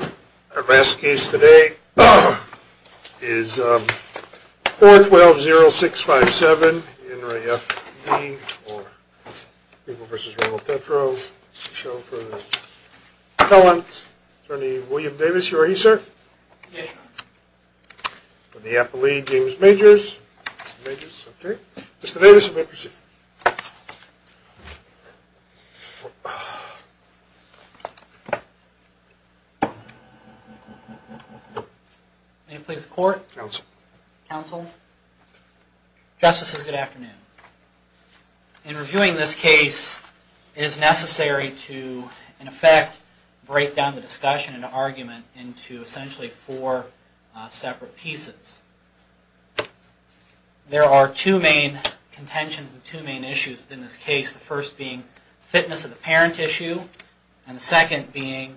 Our last case today is 4-12-0-6-5-7. In re. F.D. or People v. Ronald Petro. The show for the talent attorney, William Davis. You are he, sir? Yes, sir. From the Apple League, James Majors. Mr. Majors, okay. Mr. Davis, you may proceed. May it please the court? Counsel. Counsel. Justices, good afternoon. In reviewing this case, it is necessary to, in effect, break down the discussion and argument into, essentially, four separate pieces. There are two main contentions and two main issues within this case. The first being fitness of the parent tissue, and the second being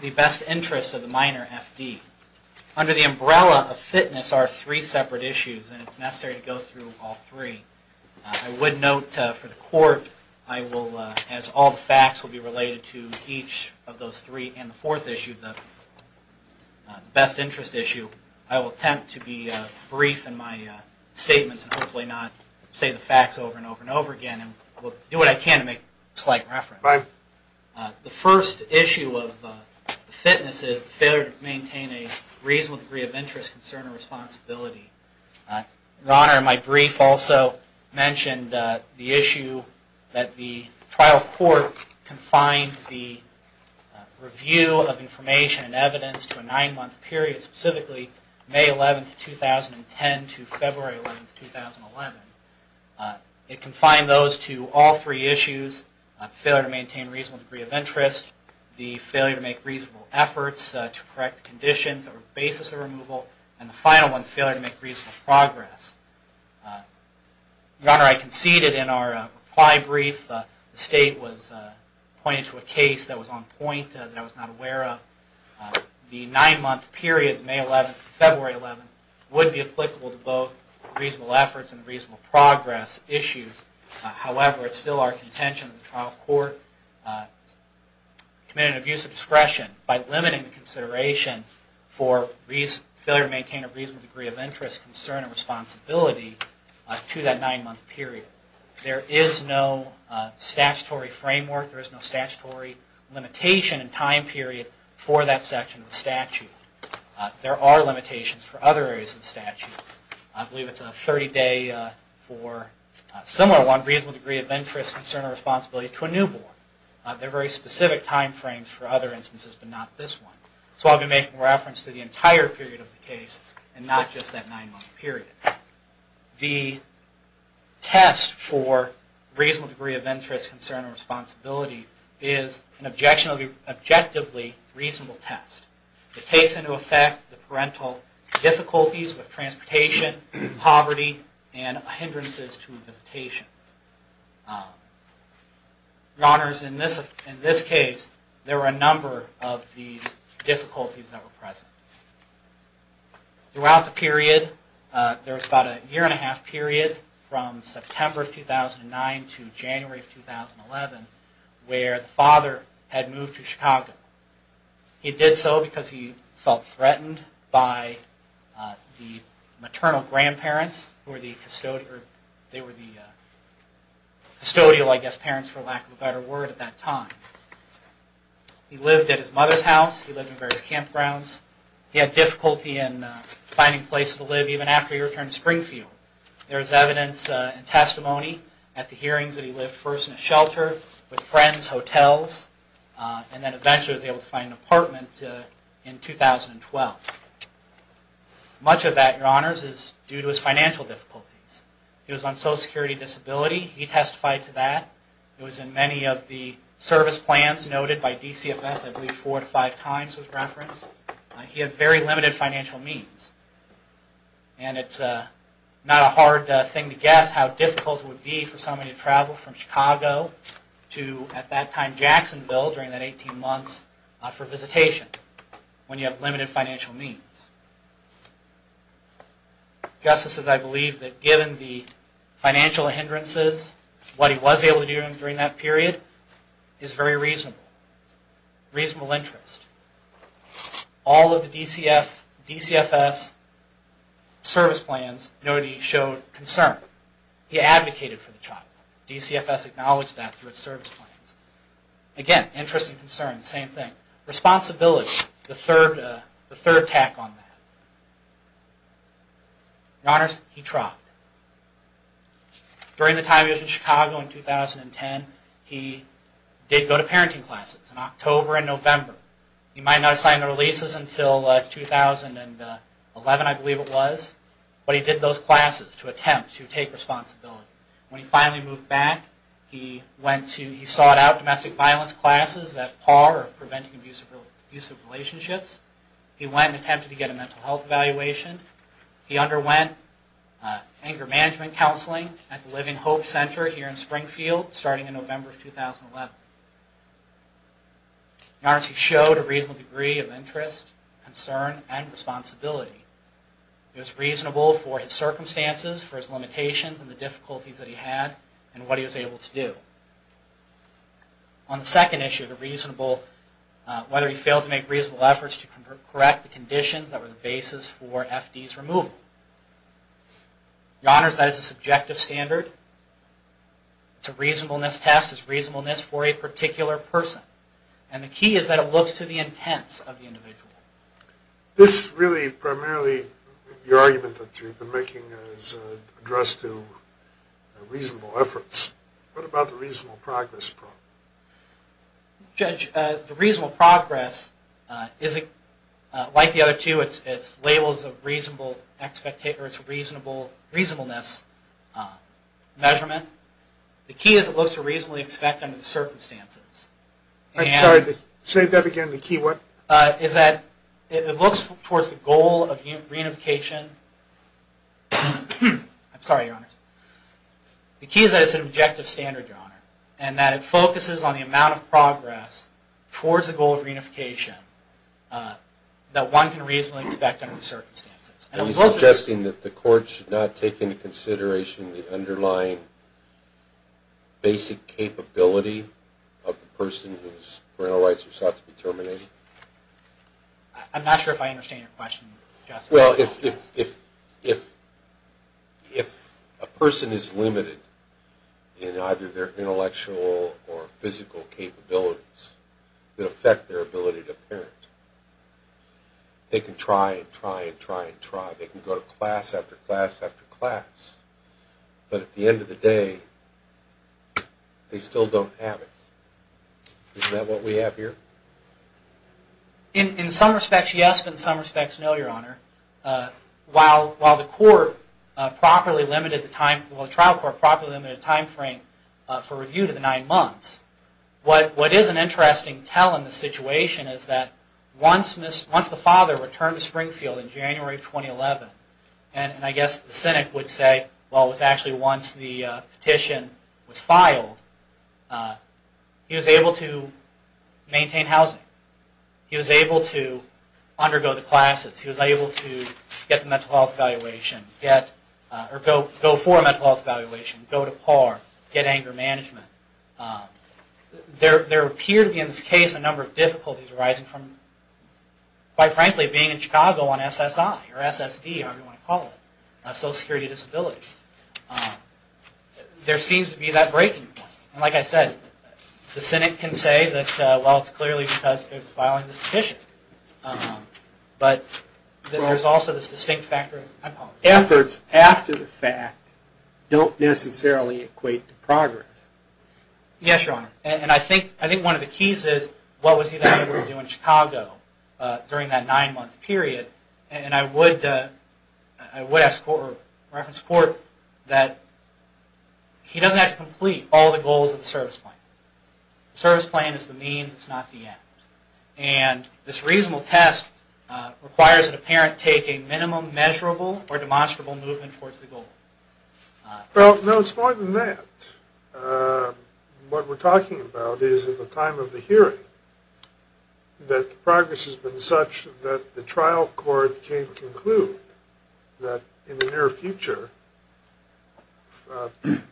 the best interest of the minor, F.D. Under the umbrella of fitness are three separate issues, and it is necessary to go through all three. I would note for the court, as all the facts will be related to each of those three, and the fourth issue, the best interest issue, I will attempt to be brief in my statements and hopefully not say the facts over and over and over again. I will do what I can to make slight reference. Right. The first issue of fitness is the failure to maintain a reasonable degree of interest, concern, or responsibility. Your Honor, my brief also mentioned the issue that the trial court confined the review of information and evidence to a nine-month period, specifically May 11, 2010, to February 11, 2011. It confined those to all three issues, failure to maintain a reasonable degree of interest, the failure to make reasonable efforts to correct conditions that were the basis of removal, and the final one, failure to make reasonable progress. Your Honor, I conceded in our reply brief, the State was pointing to a case that was on point that I was not aware of. The nine-month period, May 11 to February 11, would be applicable to both reasonable efforts and reasonable progress issues. However, it's still our contention that the trial court committed an abuse of discretion by limiting the consideration for failure to maintain a reasonable degree of interest, concern, or responsibility to that nine-month period. There is no statutory framework, there is no statutory limitation in time period for that section of the statute. There are limitations for other areas of the statute. I believe it's a 30-day for a similar one, reasonable degree of interest, concern, or responsibility to a newborn. There are very specific time frames for other instances, but not this one. So I'll be making reference to the entire period of the case and not just that nine-month period. The test for reasonable degree of interest, concern, or responsibility is an objectively reasonable test. It takes into effect the parental difficulties with transportation, poverty, and hindrances to visitation. Your Honors, in this case, there were a number of these difficulties that were present. Throughout the period, there was about a year and a half period from September 2009 to January 2011, where the father had moved to Chicago. He did so because he felt threatened by the maternal grandparents, who were the custodial, I guess, parents, for lack of a better word, at that time. He lived at his mother's house, he lived in various campgrounds. He had difficulty in finding a place to live even after he returned to Springfield. There is evidence and testimony at the hearings that he lived first in a shelter, with friends, hotels, and then eventually was able to find an apartment in 2012. Much of that, Your Honors, is due to his financial difficulties. He was on Social Security Disability. He testified to that. It was in many of the service plans noted by DCFS, I believe four to five times was referenced. He had very limited financial means. And it's not a hard thing to guess how difficult it would be for someone to travel from Chicago to, at that time, Jacksonville during that 18 months for visitation, when you have limited financial means. Justices, I believe that given the financial hindrances, what he was able to do during that period is very reasonable. Reasonable interest. All of the DCFS service plans noted he showed concern. He advocated for the child. DCFS acknowledged that through its service plans. Again, interest and concern, same thing. Responsibility, the third tack on that. Your Honors, he tried. During the time he was in Chicago in 2010, he did go to parenting classes in October and November. He might not have signed the releases until 2011, I believe it was. But he did those classes to attempt to take responsibility. When he finally moved back, he sought out domestic violence classes that par with preventing abusive relationships. He went and attempted to get a mental health evaluation. He underwent anger management counseling at the Living Hope Center here in Springfield starting in November of 2011. Your Honors, he showed a reasonable degree of interest, concern, and responsibility. He was reasonable for his circumstances, for his limitations and the difficulties that he had, and what he was able to do. On the second issue, whether he failed to make reasonable efforts to correct the conditions that were the basis for FD's removal. Your Honors, that is a subjective standard. It's a reasonableness test. It's reasonableness for a particular person. And the key is that it looks to the intents of the individual. This really primarily, your argument that you've been making is addressed to reasonable efforts. What about the reasonable progress problem? Judge, the reasonable progress isn't like the other two. It's labels of reasonable expectations, reasonableness measurement. The key is it looks to reasonably expect under the circumstances. I'm sorry, say that again, the key what? Is that it looks towards the goal of reunification. I'm sorry, Your Honors. The key is that it's an objective standard, Your Honor, and that it focuses on the amount of progress towards the goal of reunification that one can reasonably expect under the circumstances. Are you suggesting that the court should not take into consideration the underlying basic capability of the person whose parental rights are thought to be terminated? I'm not sure if I understand your question, Justice. Well, if a person is limited in either their intellectual or physical capabilities that affect their ability to parent, they can try and try and try and try. They can go to class after class after class, but at the end of the day, they still don't have it. Is that what we have here? In some respects, yes, but in some respects, no, Your Honor. While the trial court properly limited the time frame for review to the nine months, what is an interesting tell in the situation is that once the father returned to Springfield in January of 2011, and I guess the Senate would say, well, it was actually once the petition was filed, he was able to maintain housing. He was able to undergo the classes. He was able to get the mental health evaluation, or go for a mental health evaluation, go to PAR, get anger management. There appear to be in this case a number of difficulties arising from, quite frankly, being in Chicago on SSI or SSD, Social Security Disability. There seems to be that breaking point. Like I said, the Senate can say that, well, it's clearly because there's a filing of this petition, but there's also this distinct factor. Efforts after the fact don't necessarily equate to progress. Yes, Your Honor, and I think one of the keys is what was he then able to do in Chicago during that nine-month period. And I would ask for reference to the court that he doesn't have to complete all the goals of the service plan. The service plan is the means, it's not the end. And this reasonable test requires an apparent taking, minimum, measurable, or demonstrable movement towards the goal. Well, no, it's more than that. What we're talking about is at the time of the hearing, that the progress was made, the progress has been such that the trial court came to conclude that in the near future,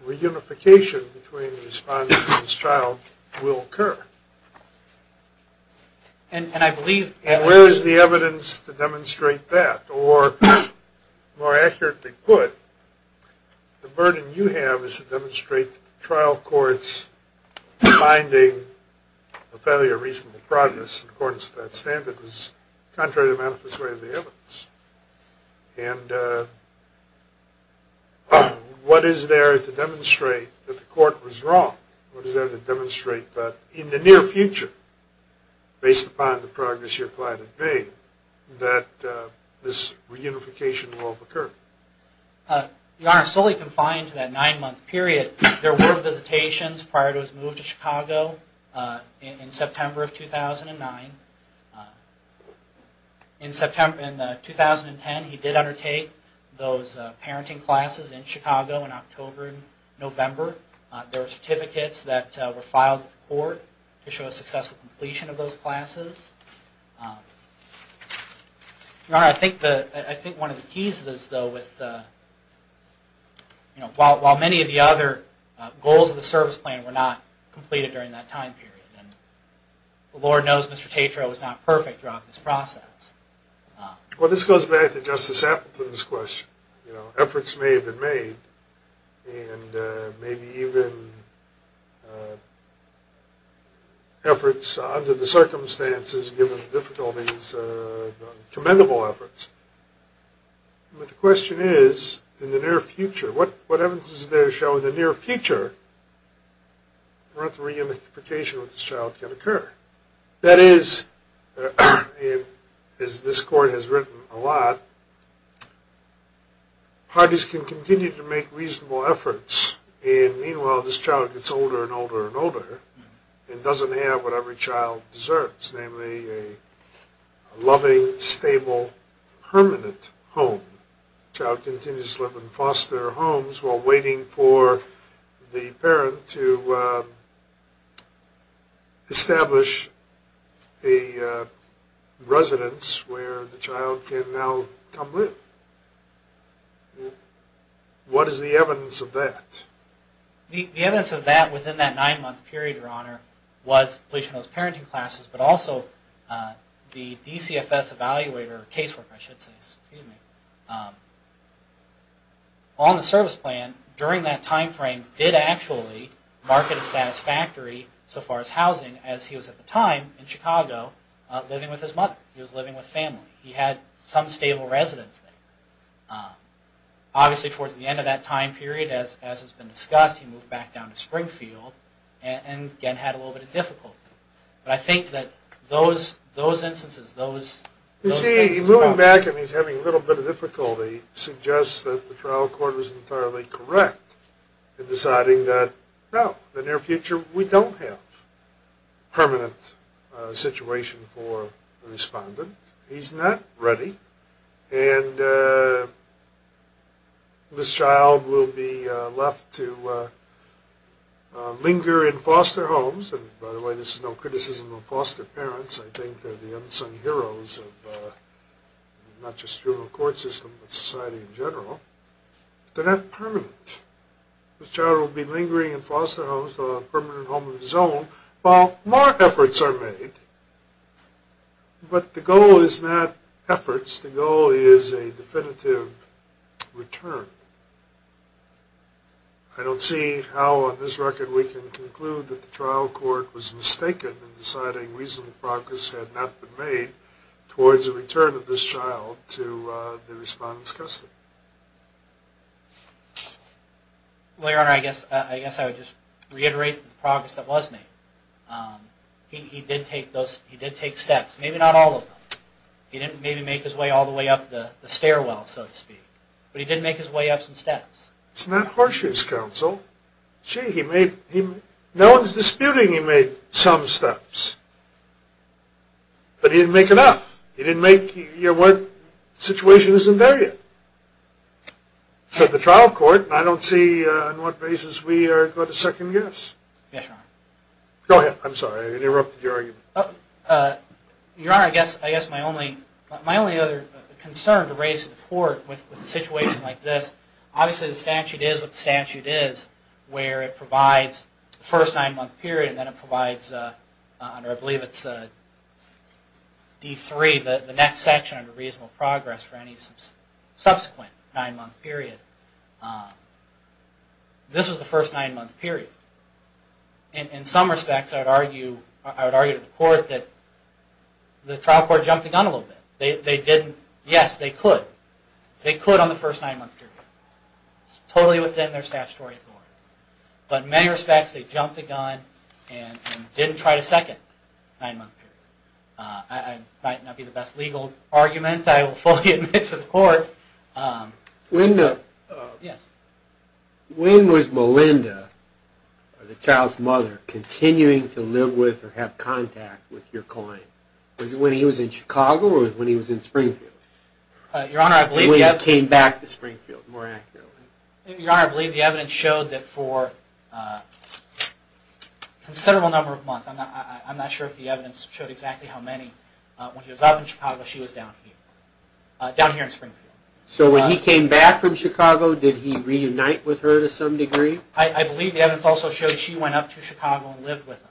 reunification between the respondents and this trial will occur. And I believe... Where is the evidence to demonstrate that? Or, more accurately put, the burden you have is to demonstrate trial courts finding a failure of reasonable progress in accordance with that standard was contrary to the manifest way of the evidence. And what is there to demonstrate that the court was wrong? What is there to demonstrate that in the near future, based upon the progress your client has made, that this reunification will occur? Your Honor, solely confined to that nine-month period, there were visitations prior to his move to Chicago in September of 2009. In September of 2010, he did undertake those parenting classes in Chicago in October and November. There were certificates that were filed with the court to show a successful completion of those classes. Your Honor, I think one of the keys is, though, while many of the other goals of the service plan were not completed during that time period. Lord knows Mr. Tatro was not perfect throughout this process. Well, this goes back to Justice Appleton's question. Efforts may have been made, and maybe even... efforts under the circumstances given the difficulties... commendable efforts. But the question is, in the near future, what evidence is there to show in the near future that reunification with this child can occur? That is, as this court has written a lot, parties can continue to make reasonable efforts and meanwhile this child gets older and older and older and doesn't have what every child deserves, namely a loving, stable, permanent home. The child continues to live in foster homes while waiting for the parent to establish a residence where the child can now come live. What is the evidence of that? The evidence of that within that nine-month period, Your Honor, was completion of those parenting classes, but also the DCFS evaluator casework on the service plan during that time frame did actually market a satisfactory so far as housing as he was at the time in Chicago living with his mother. He was living with family. He had some stable residence there. Obviously towards the end of that time period, as has been discussed, he moved back down to Springfield and again had a little bit of difficulty. But I think that those instances... You see, moving back and he's having a little bit of difficulty suggests that the trial court was entirely correct in deciding that no, in the near future we don't have a permanent situation for the respondent. He's not ready and this child will be left to linger in foster homes and by the way, this is no criticism of foster parents. I think they're the unsung heroes of not just juvenile court system, but society in general. They're not permanent. This child will be lingering in foster homes to a permanent home of his own while more efforts are made. But the goal is not efforts. The goal is a definitive return. I don't see how on this record we can conclude that the trial court was mistaken in deciding reasonable progress had not been made towards the return of this child to the respondent's custody. Well, Your Honor, I guess I would just reiterate the progress that was made. He did take steps, maybe not all of them. He didn't maybe make his way all the way up the stairwell, so to speak, but he did make his way up some steps. It's not horseshoe's counsel. No one's disputing he made some steps, but he didn't make enough. He didn't make, you know, what situation isn't there yet. So the trial court, I don't see on what basis we are going to second guess. Go ahead, I'm sorry, I interrupted your argument. Your Honor, I guess my only other concern to raise to the court with a situation like this, obviously the statute is what the statute is where it provides the first nine month period and then it provides, I believe it's D3, the next section under reasonable progress for any subsequent nine month period. This was the first nine month period. In some respects, I would argue to the court that the trial court jumped the gun a little bit. They didn't, yes, they could. They could on the first nine month period. It's totally within their statutory authority. But in many respects, they jumped the gun and didn't try to second nine month period. It might not be the best legal argument, I will fully admit to the court. When was Melinda, the child's mother, continuing to live with or have contact with your client? Was it when he was in Chicago or when he was in Springfield? When he came back to Springfield, more accurately. Your Honor, I believe the evidence showed that for a considerable number of months, I'm not sure if the evidence showed exactly how many, when he was up in Chicago, she was down here. So when he came back from Chicago, did he reunite with her to some degree? I believe the evidence also showed she went up to Chicago and lived with him.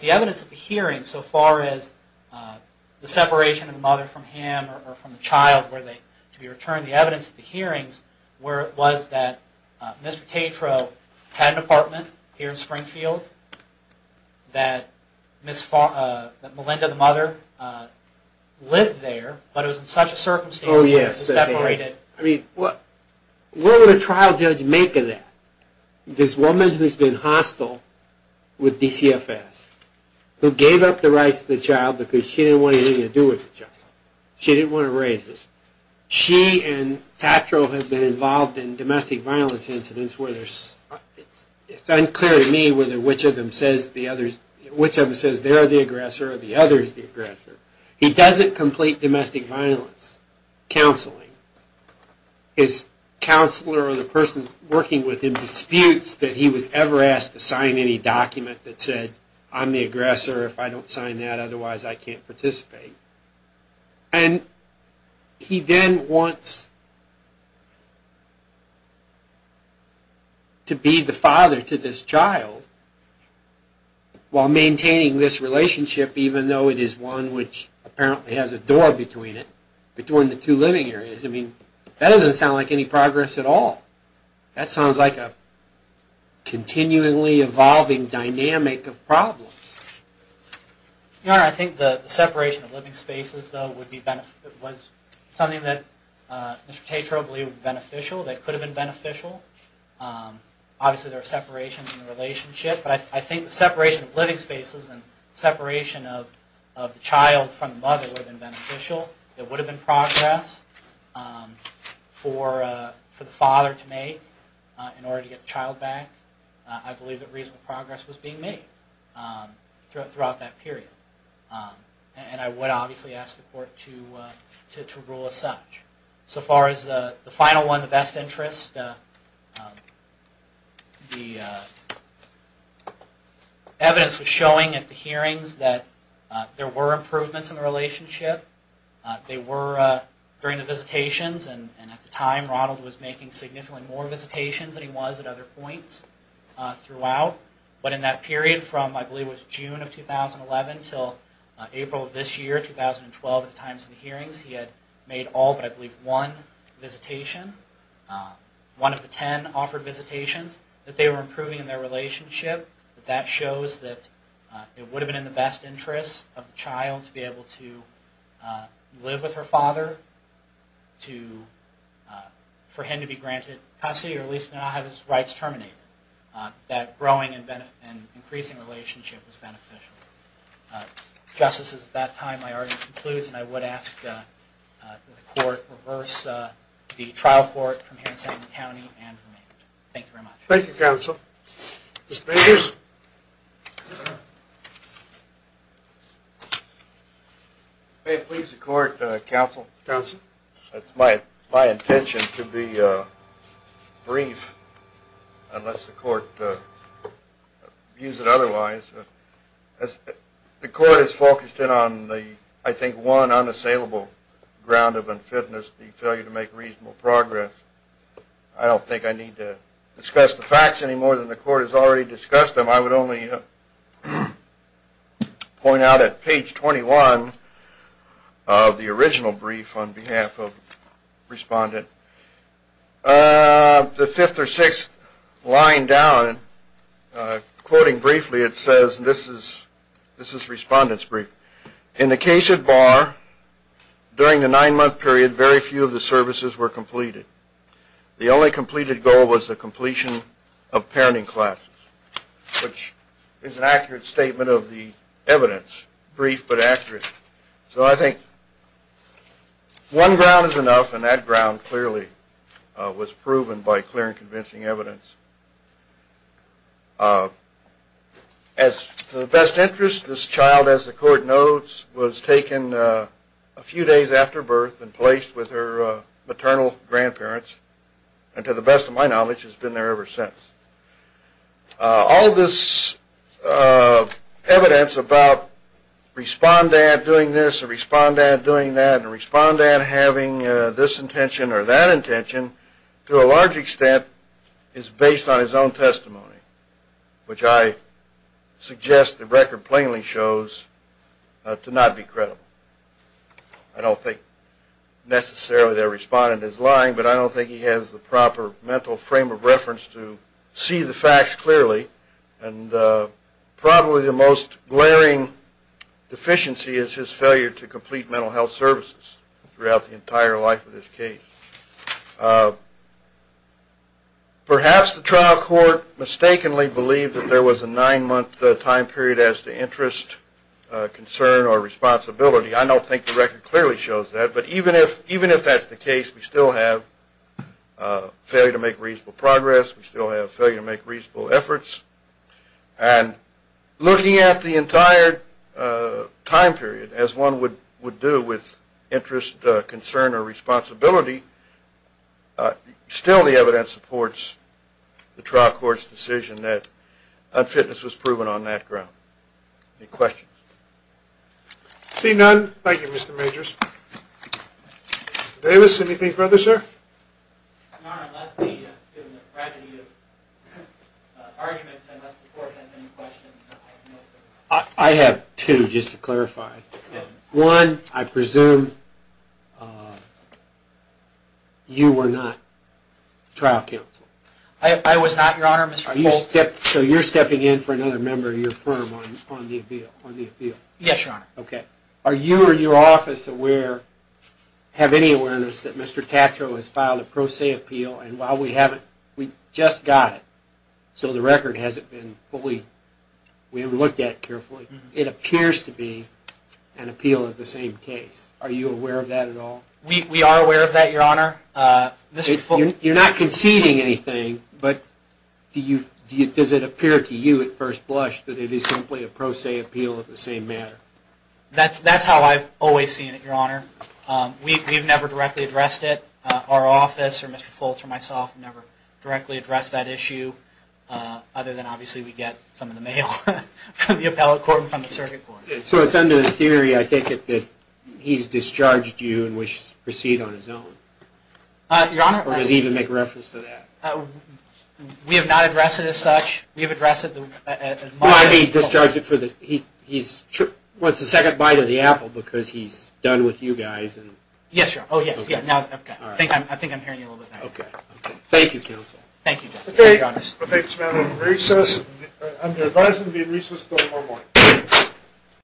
The evidence at the hearing so far as the separation of the mother from him or from the child to be returned, the evidence at the hearings was that Mr. Tatro had an apartment here in Springfield, that Melinda, the mother, lived there, but it was in such a circumstance that it was separated. What would a trial judge make of that? This woman who has been hostile with DCFS, who gave up the rights to the child because she didn't want anything to do with the child. She didn't want to raise it. She and Tatro have been involved in domestic violence incidents where it's unclear to me which of them says they're the aggressor or the other is the aggressor. He doesn't complete domestic violence counseling. His counselor or the person working with him disputes that he was ever asked to sign any document that said, I'm the aggressor, if I don't sign that, He then wants to be the father to this child while maintaining this relationship, even though it is one which apparently has a door between the two living areas. That doesn't sound like any progress at all. That sounds like a continually evolving dynamic of problems. I think the separation of living spaces was something that Mr. Tatro believed was beneficial. Obviously there are separations in the relationship, but I think the separation of living spaces and separation of the child from the mother would have been beneficial. It would have been progress for the father to make in order to get the child back. I believe that reasonable progress was being made throughout that period. I would obviously ask the court to rule as such. So far as the final one, the best interest, the evidence was showing at the hearings that there were improvements in the relationship. They were during the visitations and at the time Ronald was making significantly more visitations than he was at other points throughout. But in that period from, I believe it was June of 2011 until April of this year, 2012 at the times of the hearings, he had made all but I believe one visitation. One of the ten offered visitations that they were improving in their relationship. That shows that it would have been in the best interest of the child to be able to live with her father for him to be granted custody or at least not have his rights terminated. That growing and increasing relationship was beneficial. Justices, at that time my argument concludes and I would ask that the court reverse the trial court from here in San Diego County and remain. Thank you very much. If you may please the court, counsel. It's my intention to be brief unless the court views it otherwise. The court is focused in on the I think one unassailable ground of unfitness, the failure to make reasonable progress. I don't think I need to discuss the facts anymore than the court has already discussed them. I would only point out at page 21 of the original brief on behalf of the respondent. The fifth or sixth line down quoting briefly it says this is respondent's brief. In the case of Barr, during the nine month period very few of the services were completed. The only completed goal was the completion of parenting classes, which is an accurate statement of the evidence, brief but accurate. So I think one ground was enough and that ground clearly was proven by clear and convincing evidence. As to the best interest, this child as the court notes was taken a few days after birth and placed with her maternal grandparents and to the best of my knowledge has been there ever since. All this evidence about respondent doing this and respondent having this intention or that intention to a large extent is based on his own testimony, which I suggest the record plainly shows to not be credible. I don't think necessarily the respondent is lying but I don't think he has the proper mental frame of reference to see the facts clearly and probably the most glaring deficiency is his failure to complete mental health services throughout the entire life of this case. Perhaps the trial court mistakenly believed that there was a nine month time period as to interest, concern or responsibility. I don't think the record clearly shows that but even if that's the case we still have failure to make reasonable progress, we still have failure to make reasonable efforts and looking at the entire time period as one would do with interest, concern or responsibility still the evidence supports the trial court's decision that unfitness was proven on that ground. Any questions? Seeing none, thank you Mr. Majors. Mr. Davis, anything further sir? No, unless the court has any questions. I have two just to clarify. One, I presume you were not trial counsel. I was not, Your Honor. So you're stepping in for another member of your firm on the appeal? Yes, Your Honor. Are you or your office aware have any awareness that Mr. Tatro has filed a pro se appeal and while we just got it so the record hasn't been fully looked at carefully, it appears to be an appeal of the same case. Are you aware of that at all? We are aware of that, Your Honor. You're not conceding anything but does it appear to you at first blush that it is simply a pro se appeal of the same matter? That's how I've always seen it, Your Honor. We've never directly addressed it. Our office or Mr. Foltz or myself have never directly addressed that issue other than obviously we get some in the mail from the appellate court and from the circuit court. So it's under the theory, I take it, that he's discharged you and wishes to proceed on his own? Your Honor. Or does he even make reference to that? We have not addressed it as such. Well, I mean he's discharged you for the... Well, it's the second bite of the apple because he's done with you guys. Yes, Your Honor. I think I'm hearing you a little bit now. Thank you, counsel. Thank you, Justice.